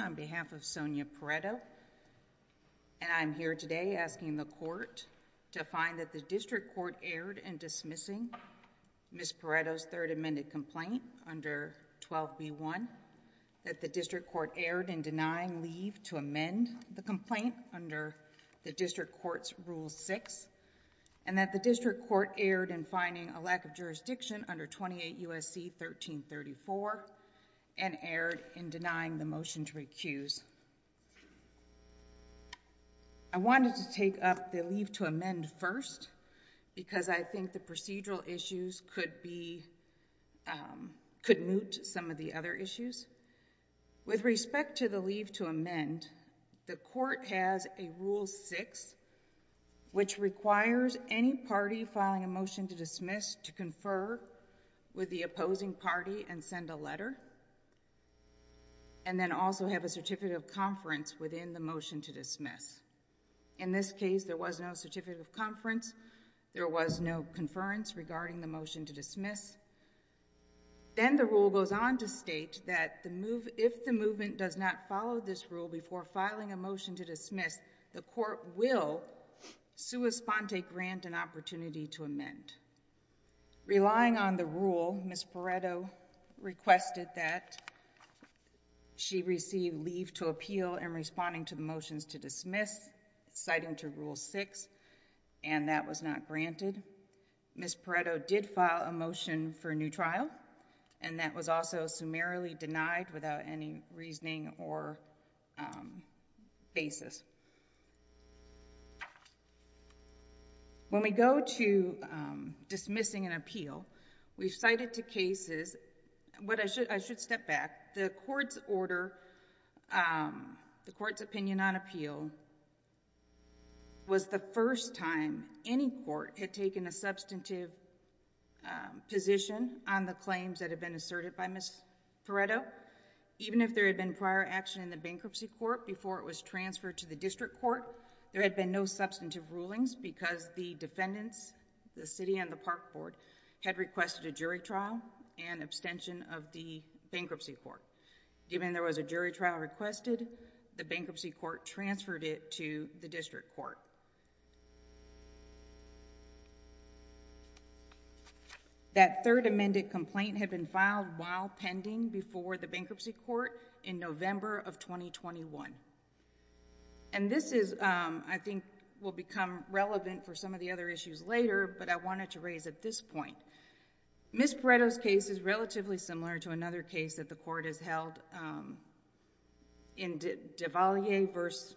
On behalf of Sonia Perretto and I'm here today asking the court to find that the district court erred in dismissing Ms. Perretto's third amended complaint under 12b1, that the district court erred in denying leave to amend the complaint under the district court's rule 6, and that the district court erred in finding a lack of jurisdiction under 28 U.S.C. 1334 and erred in denying the motion to recuse. I wanted to take up the leave to amend first because I think the procedural issues could be, um, could moot some of the other issues. With respect to the leave to amend, the court has a rule 6 which requires any party filing a motion to dismiss to confer with the opposing party and send a letter and then also have a certificate of conference within the motion to dismiss. In this case, there was no certificate of conference. There was no conference regarding the motion to dismiss. Then the rule goes on to state that if the movement does not follow this rule before filing a motion to amend. Relying on the rule, Ms. Perretto requested that she receive leave to appeal in responding to the motions to dismiss, citing to rule 6, and that was not granted. Ms. Perretto did file a motion for a new trial, and that was also summarily denied without any reasoning or basis. When we go to dismissing an appeal, we've cited two cases. What I should, I should step back. The court's order, um, the court's opinion on appeal was the first time any court had taken a substantive position on the claims that had been asserted by Ms. Perretto. Even if there had been prior action in the bankruptcy court before it was transferred to the district court, there had been no substantive rulings because the defendants, the city and the park board, had requested a jury trial and abstention of the bankruptcy court. Even if there was a jury trial requested, the bankruptcy court transferred it to the district court. That third amended complaint had been filed while pending before the bankruptcy court in November of 2021, and this is, um, I think will become relevant for some of the other issues later, but I wanted to raise at this point. Ms. Perretto's case is relatively similar to another case that the court has held in Devalier versus,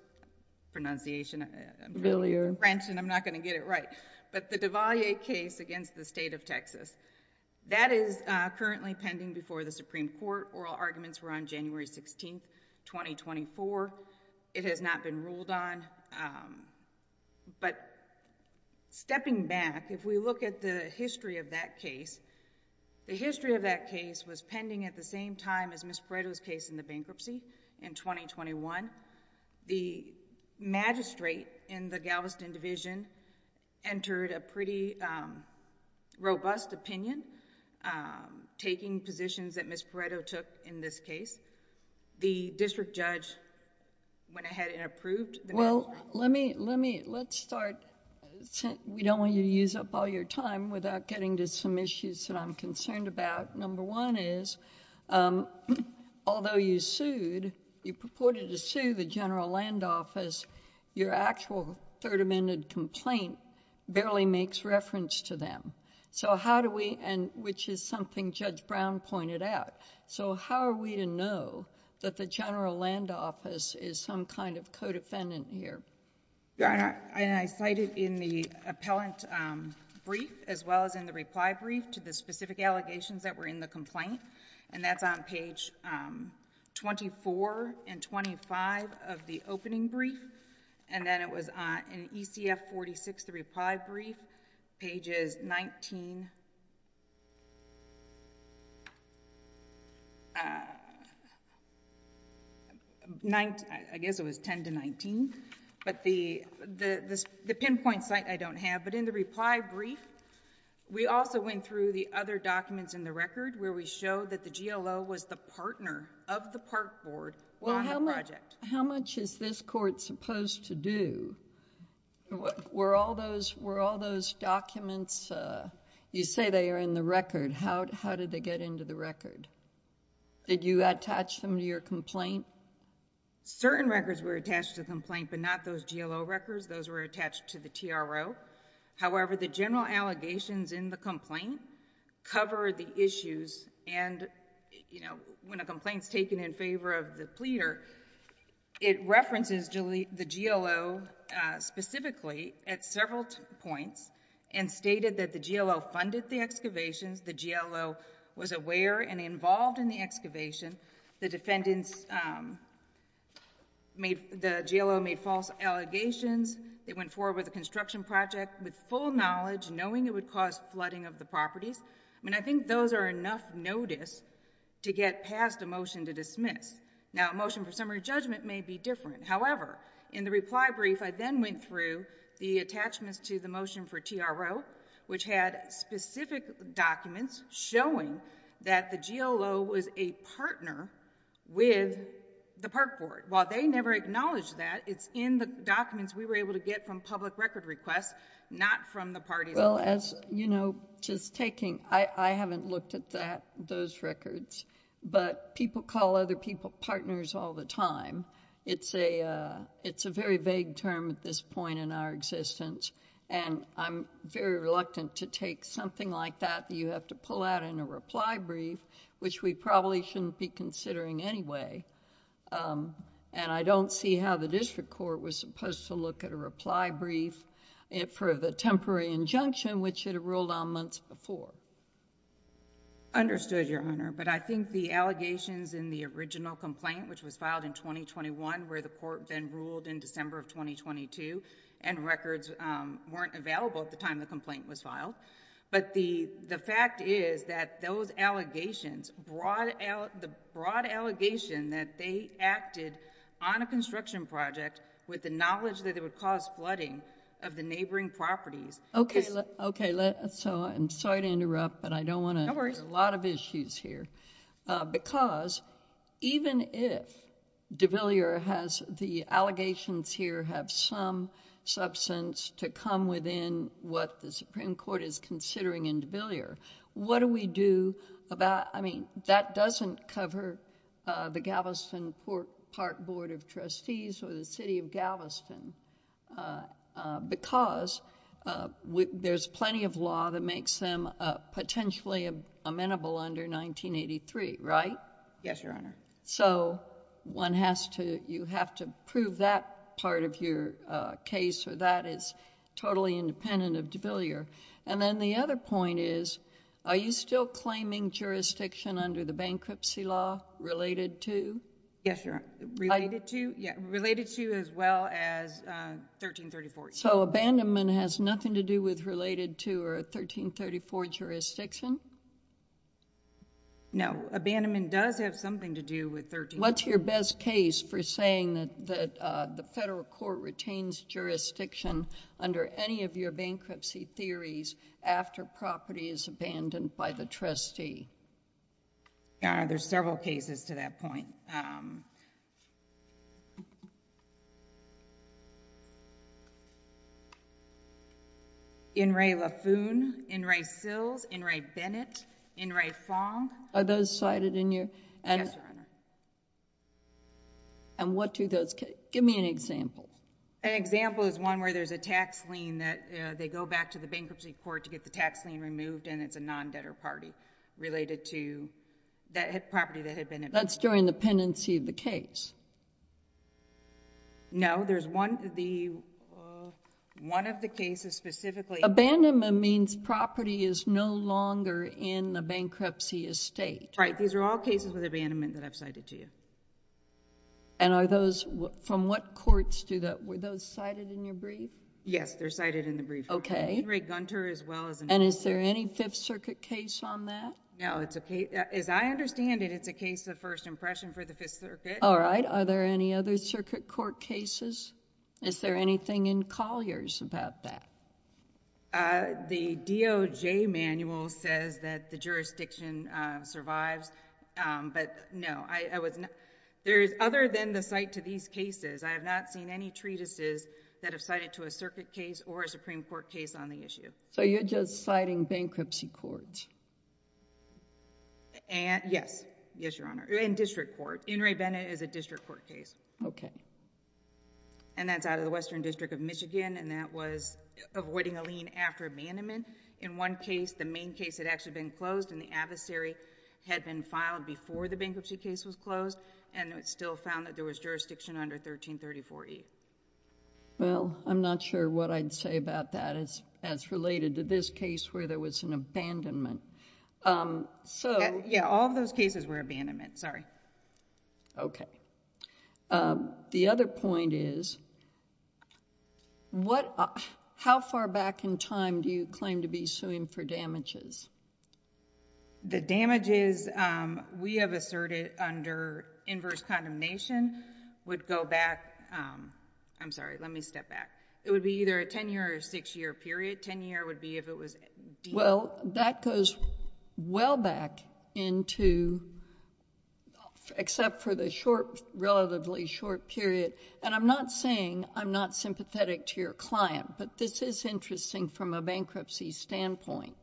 pronunciation... Biller. French, and I'm not going to get it right, but the Devalier case against the State of Texas. That is currently pending before the Supreme Court. Oral arguments were on January 16th, 2024. It has not been ruled on, but stepping back, if we look at the history of that case, the history of that case was pending at the same time as Ms. Perretto's case in the bankruptcy in 2021. The magistrate in the Galveston Division entered a pretty robust opinion taking positions that Ms. Perretto took in this case. The district judge went ahead and approved... I'm going to say that there are some issues that I'm concerned about. Number one is, although you sued, you purported to sue the General Land Office, your actual Third Amendment complaint barely makes reference to them. So how do we... and which is something Judge Brown pointed out. So how are we to know that the General Land Office is some kind of co-defendant here? I cited in the appellant brief, as well as in the reply brief, to the specific allegations that were in the complaint. And that's on page 24 and 25 of the opening brief. And then also is 10-19. But the pinpoint site I don't have. But in the reply brief, we also went through the other documents in the record where we show that the GLO was the partner of the park board on the project. How much is this court supposed to do? Were all those documents... you say they are in the record. How did they get into the record? Did you attach them to your complaint? Certain records were attached to the complaint, but not those GLO records. Those were attached to the TRO. However, the general allegations in the complaint cover the issues. And when a complaint is taken in favor of the pleader, it references the GLO specifically at several points and stated that the GLO funded the excavations. The GLO was aware and involved in the excavation. The defendants made... the GLO made false allegations. They went forward with a construction project with full knowledge, knowing it would cause flooding of the properties. I mean, I think those are enough notice to get past a motion to dismiss. Now, a motion for summary judgment may be different. However, in the reply brief, I then went through the attachments to the motion for TRO, which had specific documents showing that the GLO was a partner with the Park Board. While they never acknowledged that, it's in the documents we were able to get from public record requests, not from the parties. Well, as you know, just taking... I haven't looked at those records, but people call other people partners all the time. It's a very vague term at this point in our existence, and I'm very reluctant to take something like that that you have to pull out in a reply brief, which we probably shouldn't be considering anyway. I don't see how the district court was supposed to look at a reply brief for the temporary injunction, which it had ruled on months before. Understood, Your Honor, but I think the allegations in the original complaint, which was filed in 2021, where the court then ruled in December of 2022, and records weren't available at the time the complaint was filed, but the fact is that those allegations, the broad allegation that they acted on a construction project with the knowledge that it would cause flooding of the neighboring properties... Okay. I'm sorry to interrupt, but I don't want to... No worries.... a lot of issues here, because even if DeVillier has the allegations here have some substance to come within what the Supreme Court is considering in DeVillier, what do we do about... I mean, that doesn't cover the Galveston Park Board of Trustees or the City of Galveston, because there's plenty of law that makes them potentially amenable under 1983, right? Yes, Your Honor. So one has to... you have to prove that part of your case or that is totally independent of DeVillier, and then the other point is, are you still claiming jurisdiction under the bankruptcy law related to... Yes, Your Honor.... related to as well as 1334? So abandonment has nothing to do with related to or 1334 jurisdiction? No. Abandonment does have something to do with 1334. What's your best case for saying that the federal court retains jurisdiction under any of your bankruptcy theories after property is abandoned by the trustee? Your Honor, there's several cases to that point. In re Laffoon, in re Sills, in re Bennett, in re Fong. Are those cited in your... Yes, Your Honor. And what do those... give me an example. An example is one where there's a tax lien that they go back to the bankruptcy court to get the property that had been abandoned. That's during the pendency of the case? No, there's one... one of the cases specifically... Abandonment means property is no longer in the bankruptcy estate. Right. These are all cases with abandonment that I've cited to you. And are those... from what courts do those... were those cited in your brief? Yes, they're cited in the brief. Okay. From Henry Gunter as well as... And is there any Fifth Circuit case on that? No, it's a case... as I understand it, it's a case of first impression for the Fifth Circuit. All right. Are there any other circuit court cases? Is there anything in Collier's about that? The DOJ manual says that the jurisdiction survives, but no, I was not... there's other than the cite to these cases, I have not seen any treatises that have cited to a circuit case or a Supreme Court case on the issue. So you're just citing bankruptcy courts? And... yes. Yes, Your Honor. In district court. In Ray Bennett is a district court case. Okay. And that's out of the Western District of Michigan and that was avoiding a lien after abandonment. In one case, the main case had actually been closed and the adversary had been filed before the bankruptcy case was closed and it still found that there was jurisdiction under 1334E. Well, I'm not sure what I'd say about that as related to this case where there was an abandonment. So... Yeah, all of those cases were abandonment. Sorry. Okay. The other point is, how far back in time do you claim to be suing for damages? The damages we have asserted under inverse condemnation would go back... I'm sorry, let me step back. It would be either a ten-year or six-year period. Ten-year would be if it was... Well, that goes well back into... except for the short, relatively short period. And I'm not saying I'm not sympathetic to your client, but this is interesting from a bankruptcy standpoint.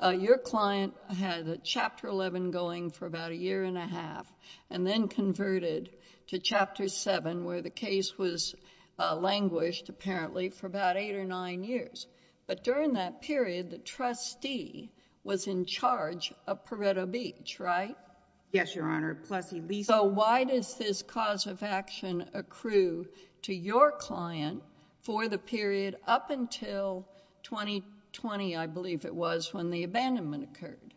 Your client had Chapter 11 going for about a year and a half and then converted to Chapter 7 where the case was languished, apparently, for about eight or nine years. But during that period, the trustee was in charge of Pareto Beach, right? Yes, Your Honor. Plus he... So why does this cause of action accrue to your client for the period up until 2020, I believe it was, when the abandonment occurred?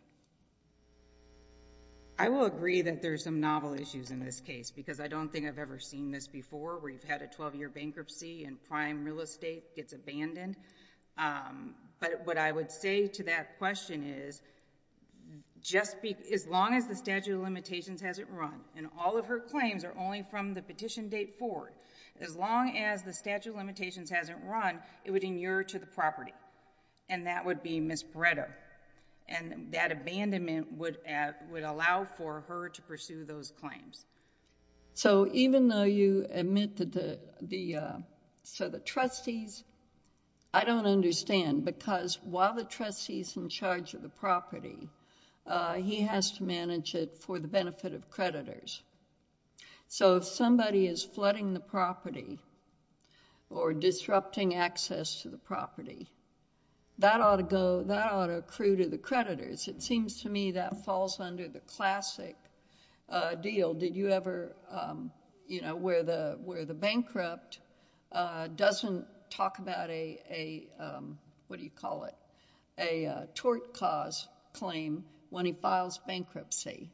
I will agree that there's some novel issues in this case because I don't think I've ever seen this before where you've had a 12-year bankruptcy and prime real estate gets abandoned. But what I would say to that question is, as long as the statute of limitations hasn't run, and all of her claims are only from the petition date forward, as long as the statute of limitations hasn't run, it would inure to the property. And that would be Ms. Pareto. And that abandonment would allow for her to pursue those claims. So even though you admit that... so the trustees... I don't understand because while the trustee is in charge of the property, he has to manage it for the benefit of creditors. So if somebody is flooding the property or disrupting access to the property, that ought to accrue to the creditors. It seems to me that falls under the classic deal. Did you ever... where the bankrupt doesn't talk about a, what do you call it, a tort cause claim when he files bankruptcy.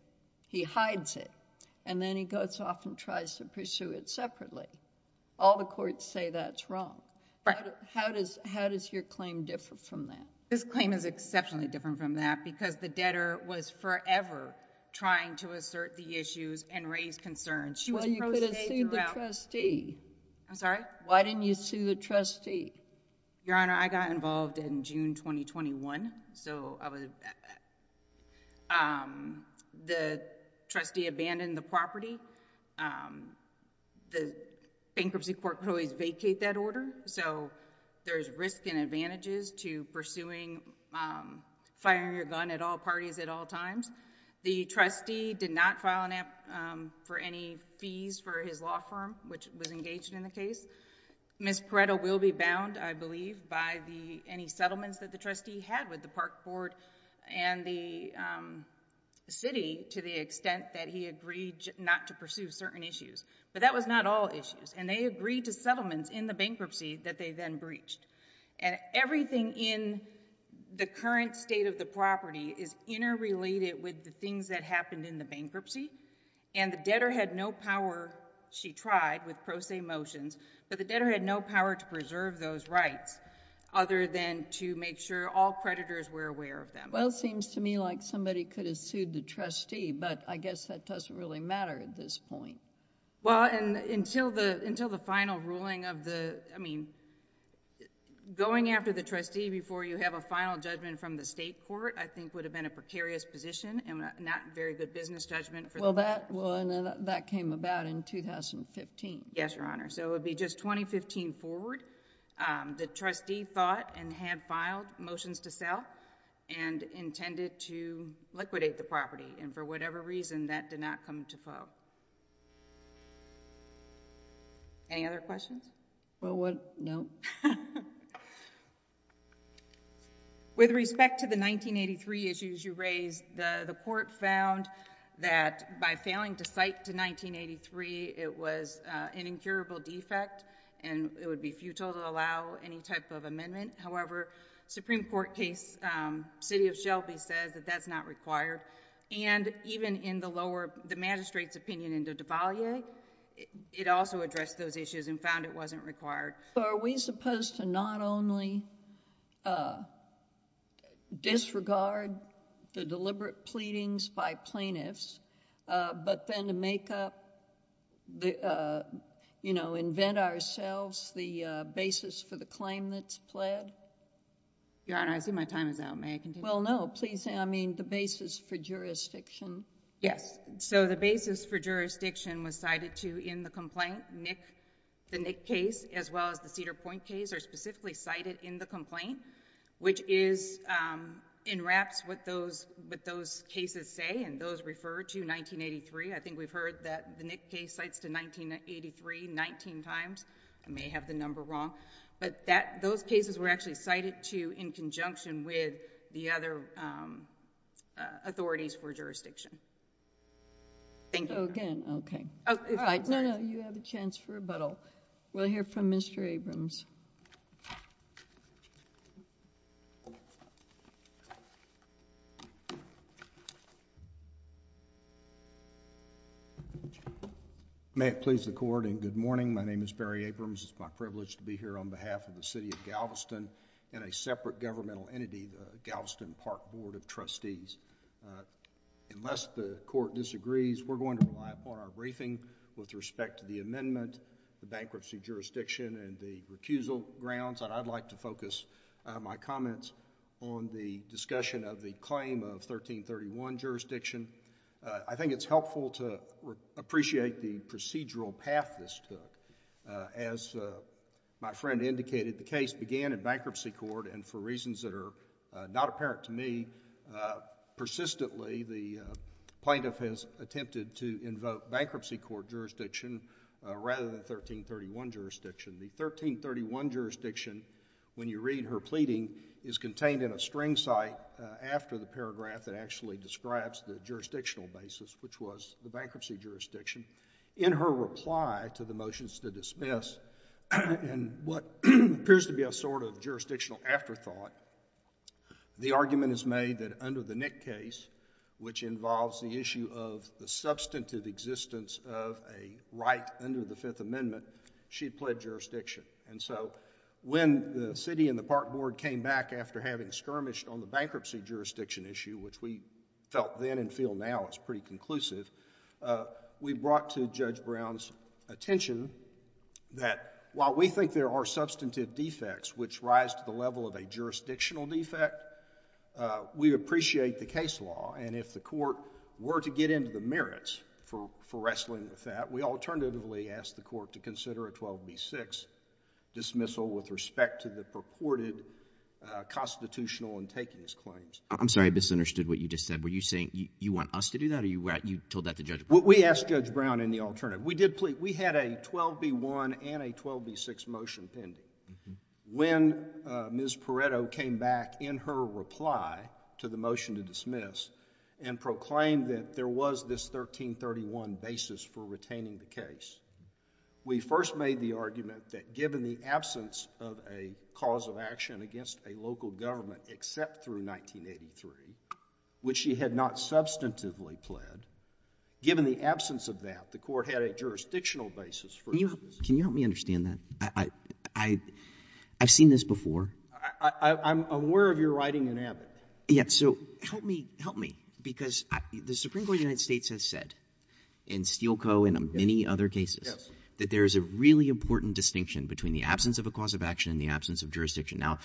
He hides it and then he goes off and tries to pursue it separately. All the courts say that's wrong. How does your claim differ from that? This claim is exceptionally different from that because the debtor was forever trying to assert the issues and raise concerns. She was... Why didn't you sue the trustee? I'm sorry? Why didn't you sue the trustee? Your Honor, I got involved in June 2021. So I was... the trustee abandoned the property. The bankruptcy court could always vacate that order. So there's risk and advantages to pursuing, firing your gun at all parties at all times. The trustee did not file for any fees for his law firm, which was engaged in the case. Ms. Pareto will be bound, I believe, by any settlements that the trustee had with the park court and the city to the extent that he agreed not to pursue certain issues. But that was not all issues. And they agreed to settlements in the bankruptcy that they then breached. And everything in the current state of the property is interrelated with the things that happened in the bankruptcy. And the debtor had no power, she tried with pro se motions, but the debtor had no power to preserve those rights other than to make sure all creditors were aware of them. Well, it seems to me like somebody could have sued the trustee, but I guess that doesn't really matter at this point. Well, and until the final ruling of the, I mean, going after the trustee before you have a final judgment from the state court, I think would have been a precarious position and not very good business judgment. Well, that came about in 2015. Yes, Your Honor. So it would be just 2015 forward. The trustee thought and had filed motions to sell and intended to liquidate the property. And for whatever reason, that did not come to full. Any other questions? Well, no. With respect to the 1983 issues you raised, the court found that by failing to cite to 1983, it was an incurable defect and it would be futile to allow any type of amendment. However, Supreme Court case, City of Shelby says that that's not required. And even in the lower, the magistrate's opinion in Devalier, it also addressed those issues and found it wasn't required. Are we supposed to not only disregard the deliberate pleadings by plaintiffs, but then to make up, you know, invent ourselves the basis for the claim that's pled? Your Honor, I see my time is out. May I continue? Well, no. Please say, I mean, the basis for jurisdiction. Yes. So the basis for jurisdiction was cited to in the complaint, the Nick case as well as the Cedar Point case are specifically cited in the complaint, which is, enwraps what those cases say and those refer to 1983. I think we've heard that the Nick case cites to 1983, 19 times. I may have the number wrong, but that, those cases were actually cited to in conjunction with the other authorities for jurisdiction. Thank you. Again. Okay. No, no. You have a chance for rebuttal. We'll hear from Mr. Abrams. May it please the court and good morning. My name is Barry Abrams. It's my privilege to be here on behalf of the City of Galveston and a separate governmental entity, the Galveston Park Board of Trustees. Unless the court disagrees, we're going to rely upon our briefing with respect to the amendment, the bankruptcy jurisdiction and the recusal grounds, and I'd like to focus my comments on the discussion of the claim of 1331 jurisdiction. I think it's helpful to appreciate the procedural path this took. As my friend indicated, the case began in bankruptcy court and for reasons that are not apparent to me, persistently the plaintiff has attempted to invoke bankruptcy court jurisdiction rather than 1331 jurisdiction. The 1331 jurisdiction, when you read her pleading, is contained in a string site after the paragraph that actually in her reply to the motions to dismiss and what appears to be a sort of jurisdictional afterthought, the argument is made that under the Nick case, which involves the issue of the substantive existence of a right under the Fifth Amendment, she pled jurisdiction. And so when the city and the park board came back after having skirmished on the bankruptcy jurisdiction issue, which we brought to Judge Brown's attention that while we think there are substantive defects which rise to the level of a jurisdictional defect, we appreciate the case law and if the court were to get into the merits for wrestling with that, we alternatively ask the court to consider a 12B6 dismissal with respect to the purported constitutional and takings claims. I'm sorry, I misunderstood what you just said. Were you saying you want us to do that or you told that to Judge Brown? We asked Judge Brown in the alternative. We had a 12B1 and a 12B6 motion pending. When Ms. Pareto came back in her reply to the motion to dismiss and proclaimed that there was this 1331 basis for retaining the case, we first made the argument that given the absence of a cause of action against a local government except through 1983, which she had not substantively pled, given the absence of that, the court had a jurisdictional basis for dismissal. Can you help me understand that? I've seen this before. I'm aware of your writing in Abbott. Yes. So help me, help me, because the Supreme Court of the United States has said, in Steele Co. and in many other cases, that there is a really important distinction between the absence of a cause of action and the absence of jurisdiction. Now,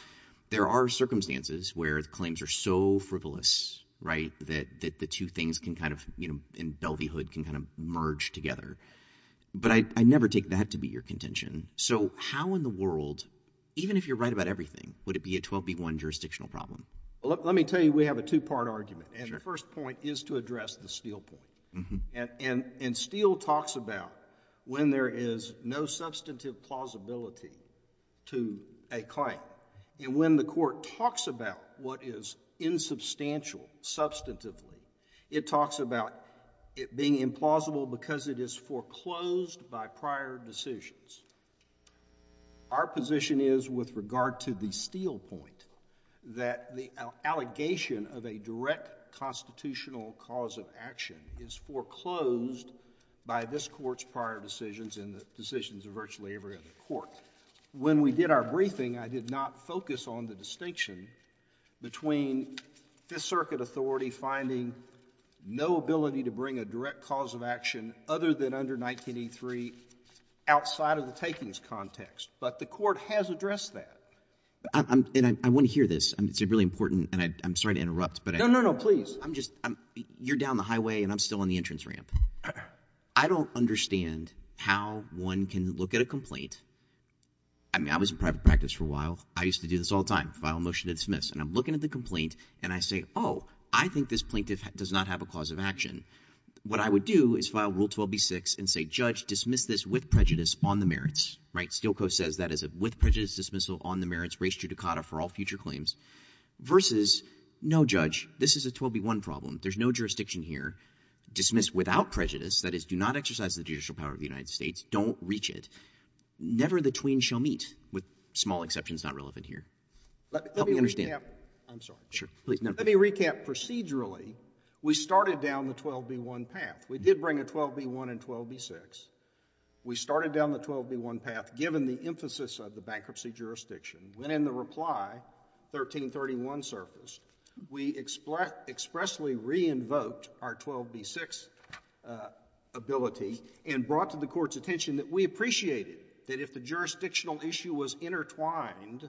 there are circumstances where the claims are so frivolous, right, that the two things can kind of, you know, in Delveyhood can kind of merge together. But I never take that to be your contention. So how in the world, even if you're right about everything, would it be a 12B1 jurisdictional problem? Let me tell you, we have a two-part argument. And the first point is to address the Steele point. And Steele talks about when there is no substantive plausibility to a claim. And when the court talks about what is insubstantial substantively, it talks about it being implausible because it is foreclosed by prior decisions. Our position is, with regard to the Steele point, that the allegation of a direct constitutional cause of action is foreclosed by this Court's prior decisions and the decisions of virtually every other court. When we did our briefing, I did not focus on the distinction between Fifth Circuit authority finding no ability to bring a direct cause of action other than under 19E3 outside of the takings context. But the court has addressed that. And I want to hear this. It's really important. And I'm sorry to interrupt. No, no, no. Please. I'm just — you're down the highway, and I'm still on the entrance ramp. I don't understand how one can look at a complaint — I mean, I was in private practice for a while. I used to do this all the time, file a motion to dismiss. And I'm looking at the complaint, and I say, oh, I think this plaintiff does not have a cause of action. What I would do is file Rule 12B6 and say, Judge, dismiss this with prejudice on the merits, right? Stilco says that is a with prejudice dismissal on the merits, res judicata for all future claims, versus, no, Judge, this is a 12B1 problem. There's no jurisdiction here. Dismiss without prejudice, that is, do not exercise the judicial power of the United States. Don't reach it. Never the tween shall meet, with small exceptions not relevant here. Help me understand. Let me recap. I'm sorry. Sure. Please. Let me recap procedurally. We started down the 12B1 path. We did bring a 12B1 and 12B6. We started down the 12B1 path given the emphasis of the bankruptcy jurisdiction. When, in the reply, 1331 surfaced, we expressly re-invoked our 12B6 ability and brought to the Court's attention that we appreciated that if the jurisdictional issue was intertwined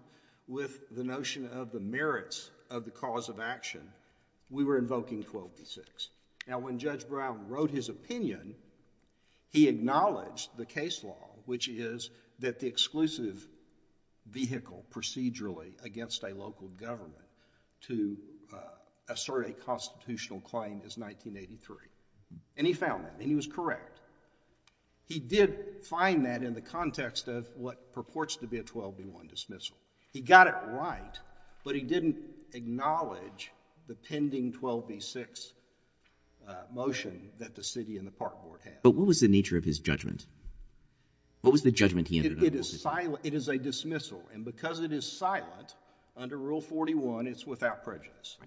with the notion of the merits of the cause of action, we were invoking 12B6. Now, when Judge Brown wrote his opinion, he acknowledged the case law, which is that the exclusive vehicle procedurally against a local government to assert a constitutional claim is 1983, and he found that, and he was correct. He did find that in the context of what purports to be a 12B1 dismissal. He got it right, but he didn't acknowledge the pending 12B6 motion that the city and the park board had. But what was the nature of his judgment? What was the judgment he ended up with? It is silent. It is a dismissal, and because it is silent, under Rule 41, it's without prejudice.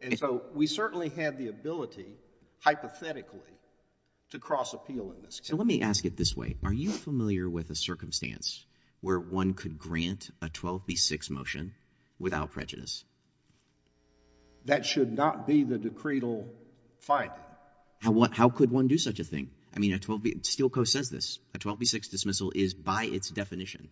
And so we certainly had the ability, hypothetically, to cross-appeal in this case. So let me ask it this way. Are you familiar with a circumstance where one could grant a 12B6 motion without prejudice? That should not be the decretal finding. How could one do such a thing? I mean, Steel Co. says this. A 12B6 dismissal is by its definition,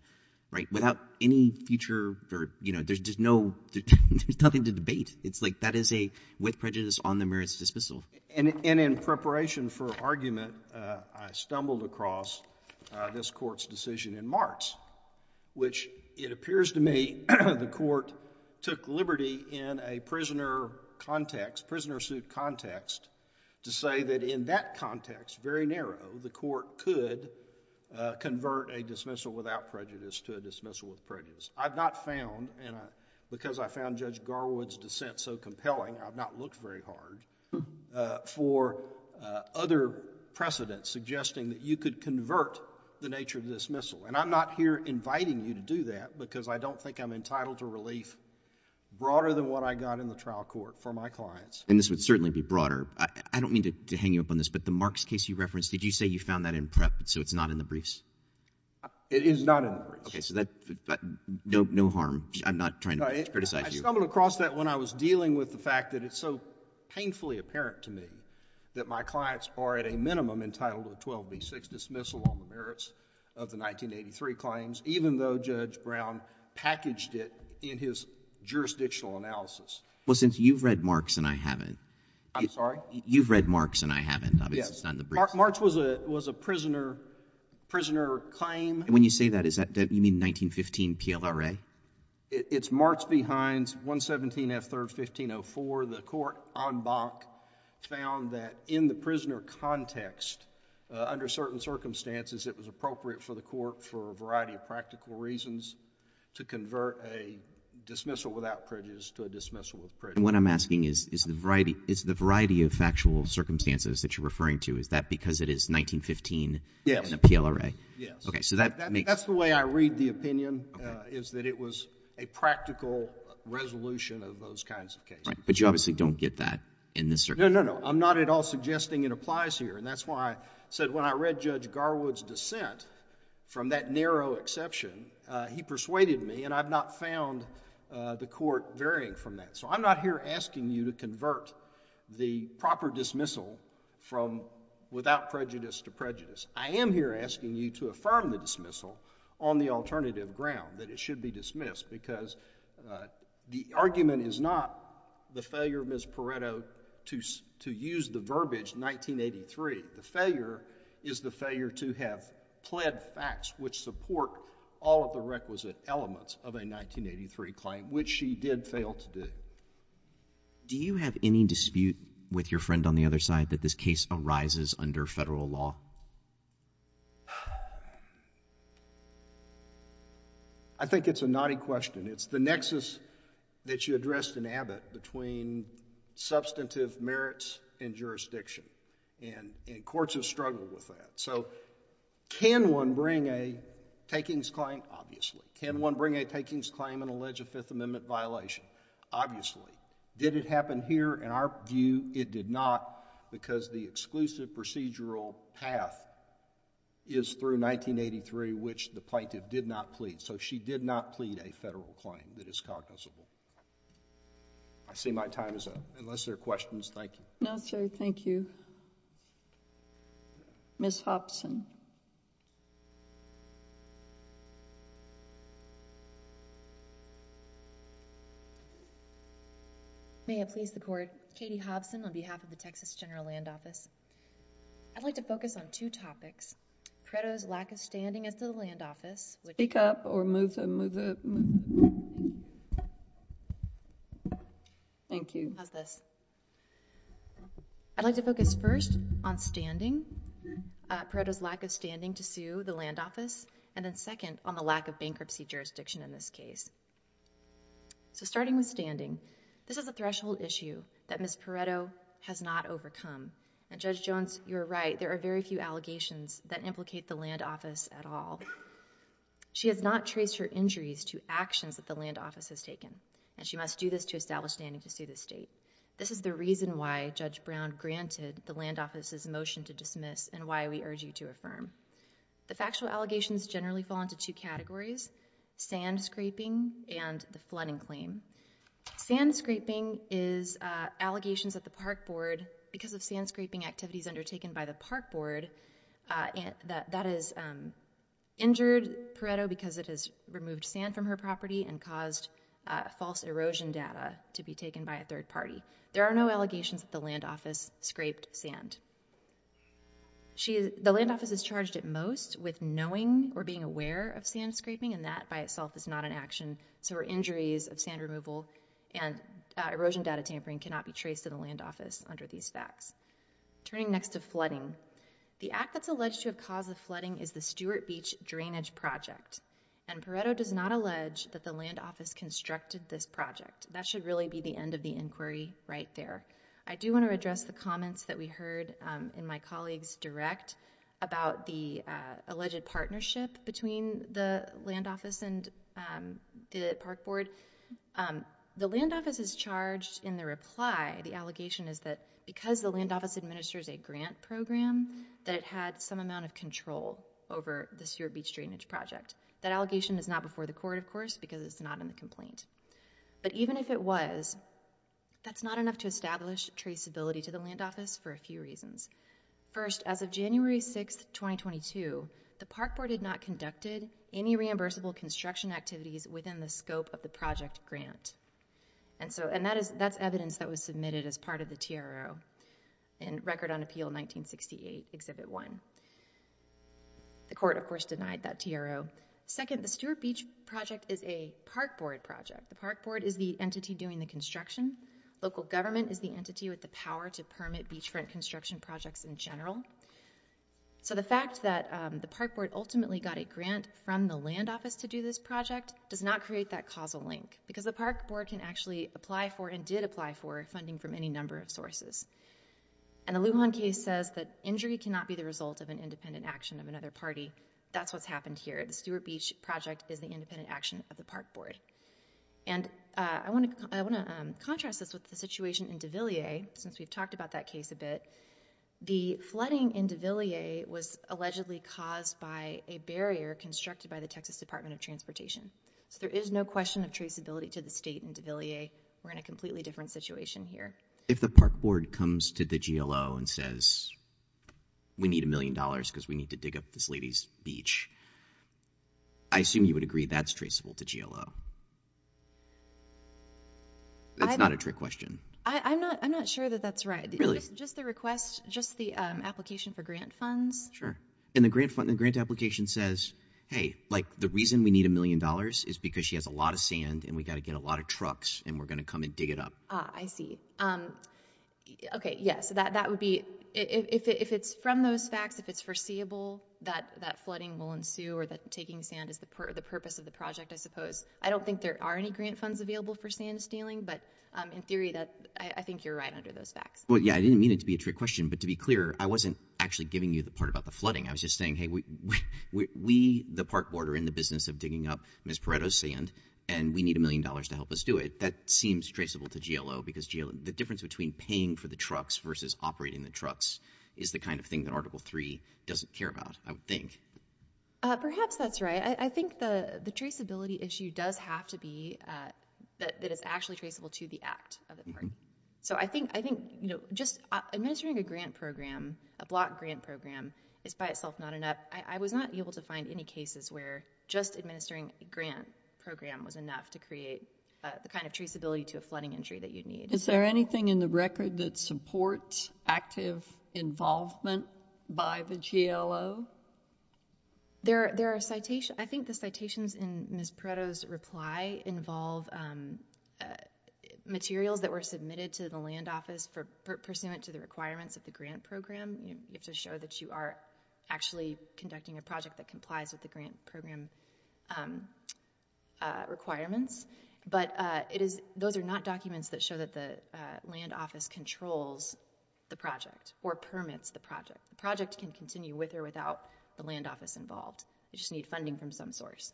right, without any future or, you know, there's just no — there's nothing to debate. It's like that is a with prejudice on the merits dismissal. And in preparation for argument, I stumbled across this Court's decision in March, which it appears to me the Court took liberty in a prisoner context, prisoner suit context, to say that in that context, very narrow, the Court could convert a dismissal without prejudice to a dismissal with prejudice. I've not found, and because I found Judge Garwood's dissent so compelling, I've not looked very hard for other precedents suggesting that you could convert the nature of dismissal. And I'm not here inviting you to do that because I don't think I'm entitled to relief broader than what I got in the trial court for my clients. And this would certainly be broader. I don't mean to hang you up on this, but the Marks case you referenced, did you say you found that in prep, so it's not in the briefs? It is not in the briefs. Okay. So that — no harm. I'm not trying to criticize you. I stumbled across that when I was dealing with the fact that it's so painfully apparent to me that my clients are, at a minimum, entitled to a 12B6 dismissal on the merits of the 1983 claims, even though Judge Brown packaged it in his jurisdictional analysis. Well, since you've read Marks and I haven't — I'm sorry? You've read Marks and I haven't. Obviously, it's not in the briefs. Marks was a prisoner claim. And when you say that, you mean 1915 PLRA? It's Marks v. Hines, 117 F. 3rd, 1504. The court, en banc, found that in the prisoner context, under certain circumstances, it was appropriate for the court, for a variety of practical reasons, to convert a dismissal without prejudice to a dismissal with prejudice. And what I'm asking is, is the variety of factual circumstances that you're referring to, is that because it is 1915 in the PLRA? Yes. Okay. So that makes — That's the way I read the opinion, is that it was a practical resolution of those kinds of cases. Right. But you obviously don't get that in this circumstance. No, no, no. I'm not at all suggesting it applies here. And that's why I said, when I read Judge Garwood's dissent, from that narrow exception, he persuaded me, and I've not found the court varying from that. So I'm not here asking you to convert the proper dismissal from — without prejudice to prejudice. I am here asking you to affirm the dismissal on the alternative ground, that it should be dismissed, because the argument is not the failure of Ms. Pareto to use the verbiage 1983. The failure is the failure to have pled facts which support all of the requisite elements of a 1983 claim, which she did fail to do. Do you have any dispute with your friend on the other side that this case arises under federal law? I think it's a naughty question. It's the nexus that you addressed in Abbott between substantive merits and jurisdiction. And courts have struggled with that. So can one bring a takings claim? Obviously. Can one bring a takings claim and allege a Fifth Amendment violation? Obviously. Did it happen here? In our view, it did not, because the exclusive procedural path is through 1983, which the plaintiff did not plead. So she did not plead a federal claim that is cognizable. I see my time is up. Unless there are questions, thank you. No, sir. Thank you. Ms. Hobson. May it please the court. Katie Hobson on behalf of the Texas General Land Office. I'd like to focus on two topics. Pareto's lack of standing at the land office. Thank you. How's this? I'd like to focus first on standing. Pareto's lack of standing to sue the land office. And then second, on the lack of bankruptcy jurisdiction in this case. So starting with standing, this is a threshold issue that Ms. Pareto has not overcome. And Judge Jones, you're right. There are very few allegations that implicate the land office at all. She has not traced her injuries to actions that the land office has taken. And she must do this to establish standing to sue the state. This is the reason why Judge Brown granted the land office's motion to dismiss and why we urge you to affirm. The factual allegations generally fall into two categories, sand scraping and the flooding claim. Sand scraping is allegations that the park board, because of sand scraping activities undertaken by the park board, that has injured Pareto because it has removed sand from her property and caused false erosion data to be taken by a third party. There are no allegations that the land office scraped sand. The land office is charged at most with knowing or being aware of sand scraping and that by itself is not an action. So her injuries of sand removal and erosion data tampering cannot be traced to the land office under these facts. Turning next to flooding, the act that's alleged to have caused the flooding is the Stewart Beach drainage project. And Pareto does not allege that the land office constructed this project. That should really be the end of the inquiry right there. I do want to address the comments that we heard in my colleague's direct about the alleged partnership between the land office and the park board. The land office is charged in reply, the allegation is that because the land office administers a grant program that it had some amount of control over the Stewart Beach drainage project. That allegation is not before the court, of course, because it's not in the complaint. But even if it was, that's not enough to establish traceability to the land office for a few reasons. First, as of January 6, 2022, the park board had not conducted any reimbursable construction activities within the scope of the submitted as part of the TRO in Record on Appeal 1968, Exhibit 1. The court, of course, denied that TRO. Second, the Stewart Beach project is a park board project. The park board is the entity doing the construction. Local government is the entity with the power to permit beachfront construction projects in general. So the fact that the park board ultimately got a grant from the land office to do this project does not create that causal link. Because the park board can actually apply for and did apply for funding from any number of sources. And the Lujan case says that injury cannot be the result of an independent action of another party. That's what's happened here. The Stewart Beach project is the independent action of the park board. And I want to contrast this with the situation in DeVilliers, since we've talked about that case a bit. The flooding in DeVilliers was allegedly caused by a barrier constructed by the Texas Department of Transportation. So there is no question of traceability to the state in DeVilliers. We're in a completely different situation here. If the park board comes to the GLO and says we need a million dollars because we need to dig up this lady's beach, I assume you would agree that's traceable to GLO? That's not a trick question. I'm not sure that that's right. Really? Just the request, just the application for grant funds. Sure. And the grant application says, hey, like the reason we need a million dollars is because she has a lot of sand and we've got to get a lot of trucks and we're going to come and dig it up. I see. Okay. Yeah. So that would be if it's from those facts, if it's foreseeable that that flooding will ensue or that taking sand is the purpose of the project, I suppose. I don't think there are any grant funds available for sand stealing, but in theory that I think you're right under those facts. Well, yeah, I didn't mean it to be a trick question, but to be clear, I wasn't actually giving you the part about the flooding. I was just saying, hey, we, the park board are in the business of digging up Ms. Pareto's sand and we need a million dollars to help us do it. That seems traceable to GLO because the difference between paying for the trucks versus operating the trucks is the kind of thing that Article 3 doesn't care about, I would think. Perhaps that's right. I think the traceability issue does have to be that it's actually traceable to the act of the park. So I think just administering a grant program is by itself not enough. I was not able to find any cases where just administering a grant program was enough to create the kind of traceability to a flooding injury that you'd need. Is there anything in the record that supports active involvement by the GLO? There are citations. I think the citations in Ms. Pareto's reply involve materials that were submitted to the land office pursuant to the requirements of the grant program. You have to show that you are actually conducting a project that complies with the grant program requirements, but those are not documents that show that the land office controls the project or permits the project. The project can continue with or without the land office involved. You just need funding from some source.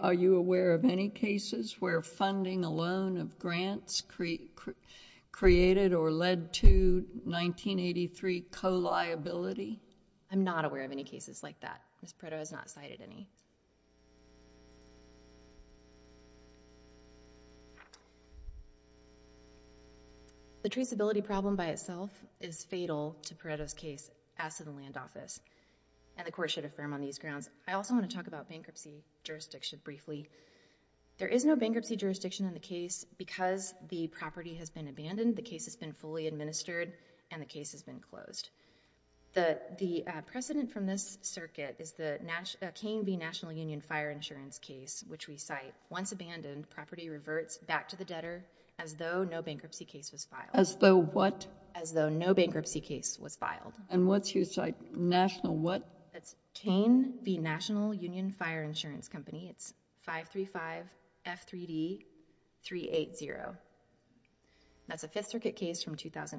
Are you aware of any cases where funding alone of grants created or led to 1983 co-liability? I'm not aware of any cases like that. Ms. Pareto has not cited any. The traceability problem by itself is fatal to Pareto's case as to the land office, and the court should affirm on these grounds. I also want to talk about bankruptcy jurisdiction briefly. There is no bankruptcy jurisdiction in the case. Because the property has been abandoned, the case has been fully administered, and the case has been closed. The precedent from this circuit is the Kane v. National Union Fire Insurance case, which we cite. Once abandoned, property reverts back to the debtor as though no bankruptcy case was filed. As though what? As though no bankruptcy case was filed. What's your site? National what? That's Kane v. National from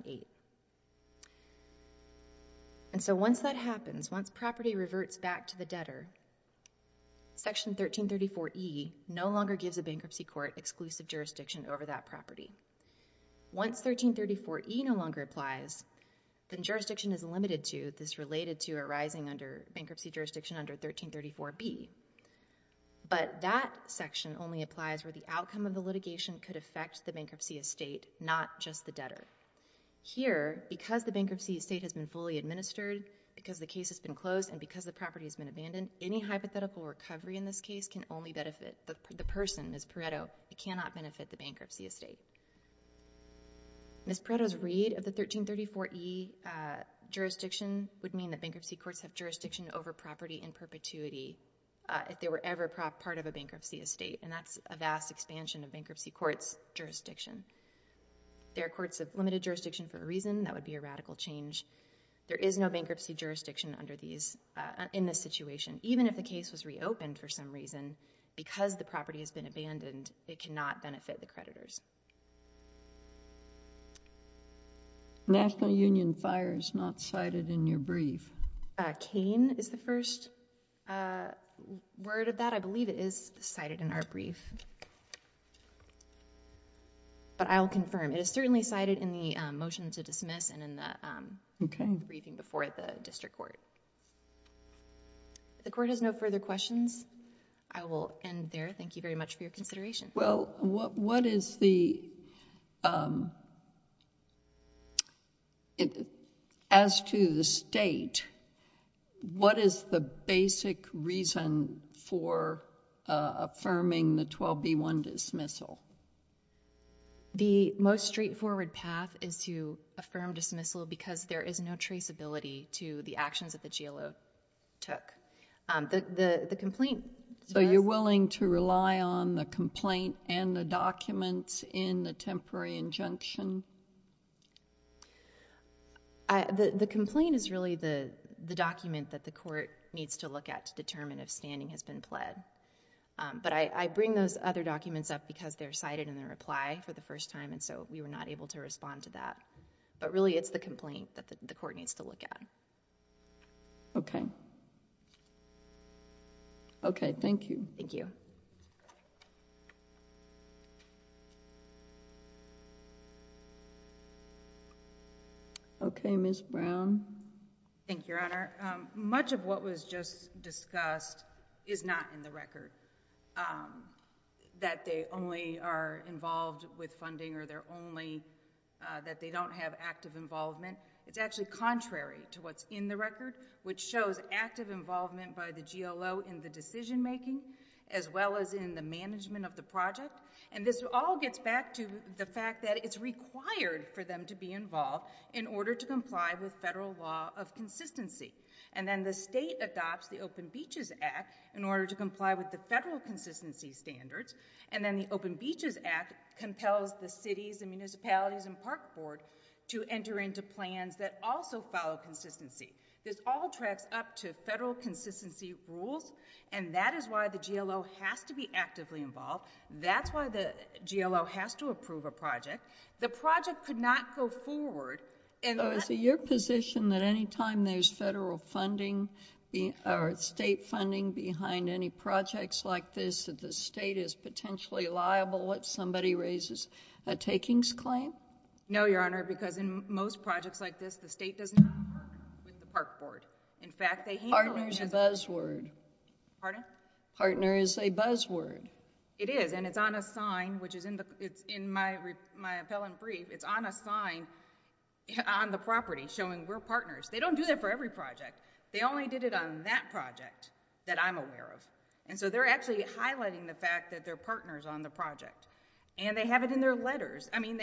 2008. Once that happens, once property reverts back to the debtor, section 1334E no longer gives a bankruptcy court exclusive jurisdiction over that property. Once 1334E no longer applies, then jurisdiction is limited to this related to arising under bankruptcy jurisdiction under 1334B. But that section only applies where the outcome of the bankruptcy jurisdiction is the debtor. Here, because the bankruptcy estate has been fully administered, because the case has been closed, and because the property has been abandoned, any hypothetical recovery in this case can only benefit the person, Ms. Pareto. It cannot benefit the bankruptcy estate. Ms. Pareto's read of the 1334E jurisdiction would mean that bankruptcy courts have jurisdiction over property in perpetuity if they were ever part of a bankruptcy estate, and that's a vast expansion of bankruptcy courts' jurisdiction. There are courts of limited jurisdiction for a reason. That would be a radical change. There is no bankruptcy jurisdiction under these, in this situation. Even if the case was reopened for some reason, because the property has been abandoned, it cannot benefit the creditors. National Union Fire is not cited in your brief. Cain is the first word of that. I believe it is cited in our brief. But I'll confirm. It is certainly cited in the motion to dismiss and in the briefing before the district court. If the court has no further questions, I will end there. Thank you very much. What is the basic reason for affirming the 12B1 dismissal? The most straightforward path is to affirm dismissal because there is no traceability to the actions that the GLO took. The complaint... So you're willing to rely on the complaint and the documents in the temporary injunction? The complaint is really the document that the court needs to look at to determine if standing has been pled. But I bring those other documents up because they're cited in the reply for the first time, and so we were not able to respond to that. But really, it's the complaint that the court needs to look at. Okay. Okay, thank you. Thank you. Okay, Ms. Brown. Thank you, Your Honor. Much of what was just discussed is not in the record, that they only are involved with funding or that they don't have active involvement. It's actually contrary to what's in the record, which shows active involvement by the GLO in the decision making as well as in the management of the project. And this all gets back to the fact that it's required for them to be involved in order to comply with federal law of consistency. And then the state adopts the Open Beaches Act in order to comply with the federal consistency standards. And then the Open Beaches Act compels the cities and municipalities and park board to enter into plans that also follow consistency. This all tracks up to federal consistency rules, and that is why the GLO has to be actively involved. That's why the GLO has to approve a project. The project could not go forward. Is it your position that anytime there's federal funding or state funding behind any projects like this, that the state is potentially liable if somebody raises a takings claim? No, Your Honor, because in most projects like this, the state does not work with the park board. In fact, they handle it as a buzzword. Pardon? Partner is a buzzword. It is, and it's on a sign, which is in my appellant brief. It's on a sign on the property showing we're partners. They don't do that for every project. They only did it on that project that I'm aware of. And so they're actually highlighting the fact that they're partners on the project. And they have it in their letters. I mean,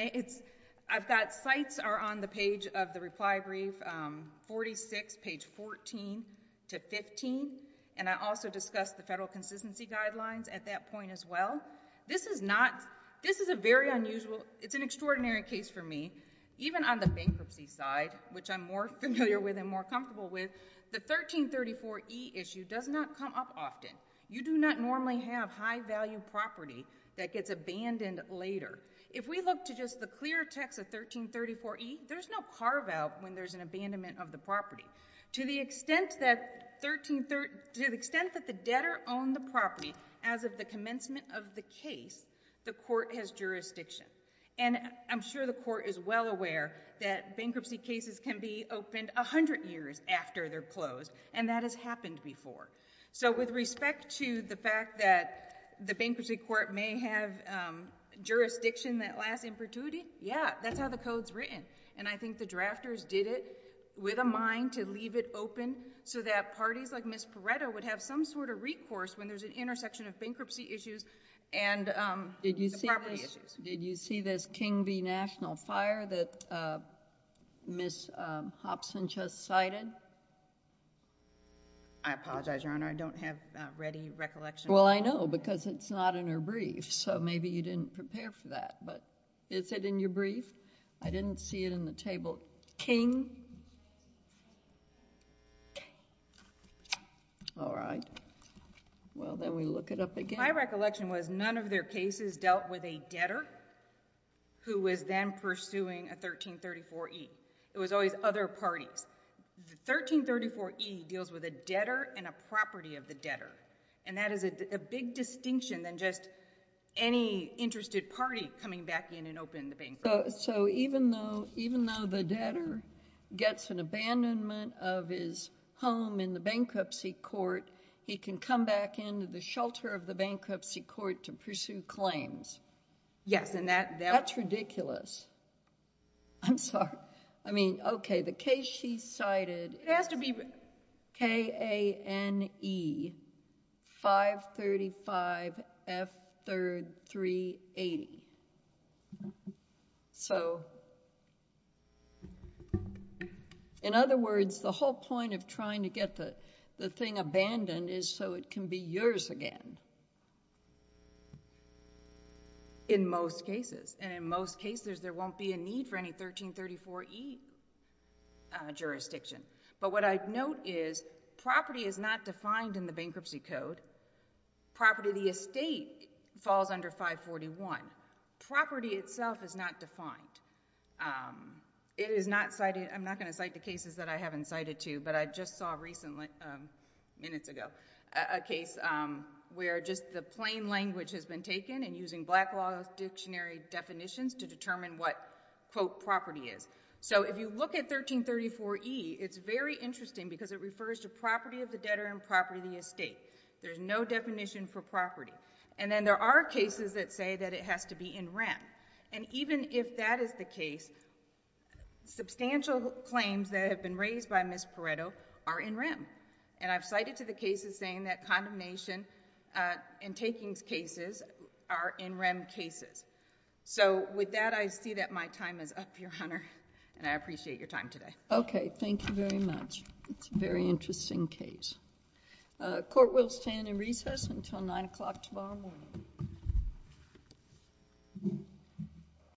46, page 14 to 15, and I also discussed the federal consistency guidelines at that point as well. This is a very unusual, it's an extraordinary case for me. Even on the bankruptcy side, which I'm more familiar with and more comfortable with, the 1334E issue does not come up often. You do not normally have high-value property that gets abandoned later. If we look to just the clear text of 1334E, there's no carve-out when there's an abandonment of the property. To the extent that the debtor owned the property as of the commencement of the case, the court has jurisdiction. And I'm sure the court is well aware that bankruptcy cases can be opened 100 years after they're closed, and that has happened before. So with respect to the fact that the bankruptcy court may have jurisdiction that lasts impurity, yeah, that's how the code's written. And I think the drafters did it with a mind to leave it open so that parties like Ms. Perretta would have some sort of recourse when there's an intersection of bankruptcy issues and the property issues. Did you see this King v. National Fire that Ms. Hobson just cited? I apologize, Your Honor. I don't have ready recollection. Well, I know because it's not in her brief, so maybe you didn't prepare for that. But is it in your brief? I didn't see it in the table. King. King. All right. Well, then we look it up again. My recollection was none of their cases dealt with a debtor who was then pursuing a 1334E. It was always other parties. The 1334E deals with a debtor and a property of the debtor, and that is a big distinction than just any interested party coming back in and opening the bankruptcy. So even though the debtor gets an abandonment of his home in the bankruptcy court, he can come back into the shelter of the bankruptcy court to pursue claims? Yes, and that... That's ridiculous. I'm sorry. I mean, okay, the case she cited... It has to be K-A-N-E-535-F-3-3-80. So... In other words, the whole point of trying to get the thing abandoned is so it can be yours again. In most cases, and in most cases, there won't be a need for any 1334E jurisdiction, but what I'd note is property is not defined in the bankruptcy code. Property of the estate falls under 541. Property itself is not defined. I'm not going to cite the cases that I haven't cited to, but I just saw recently, minutes ago, a case where just the plain language has been taken and using Black Law Dictionary definitions to determine what, quote, property is. So if you look at 1334E, it's very interesting because it refers to property of the debtor and property of the estate. There's no definition for property, and then there are cases that say that it has to be in REM, and even if that is the case, substantial claims that have been raised by Ms. Pareto are in REM, and I've cited to the cases saying that condemnation and takings cases are in REM cases. So with that, I see that my time is up, Your Honor, and I appreciate your time today. Okay. Thank you very much. It's a very interesting case. Court will stand in recess until 9 o'clock tomorrow morning.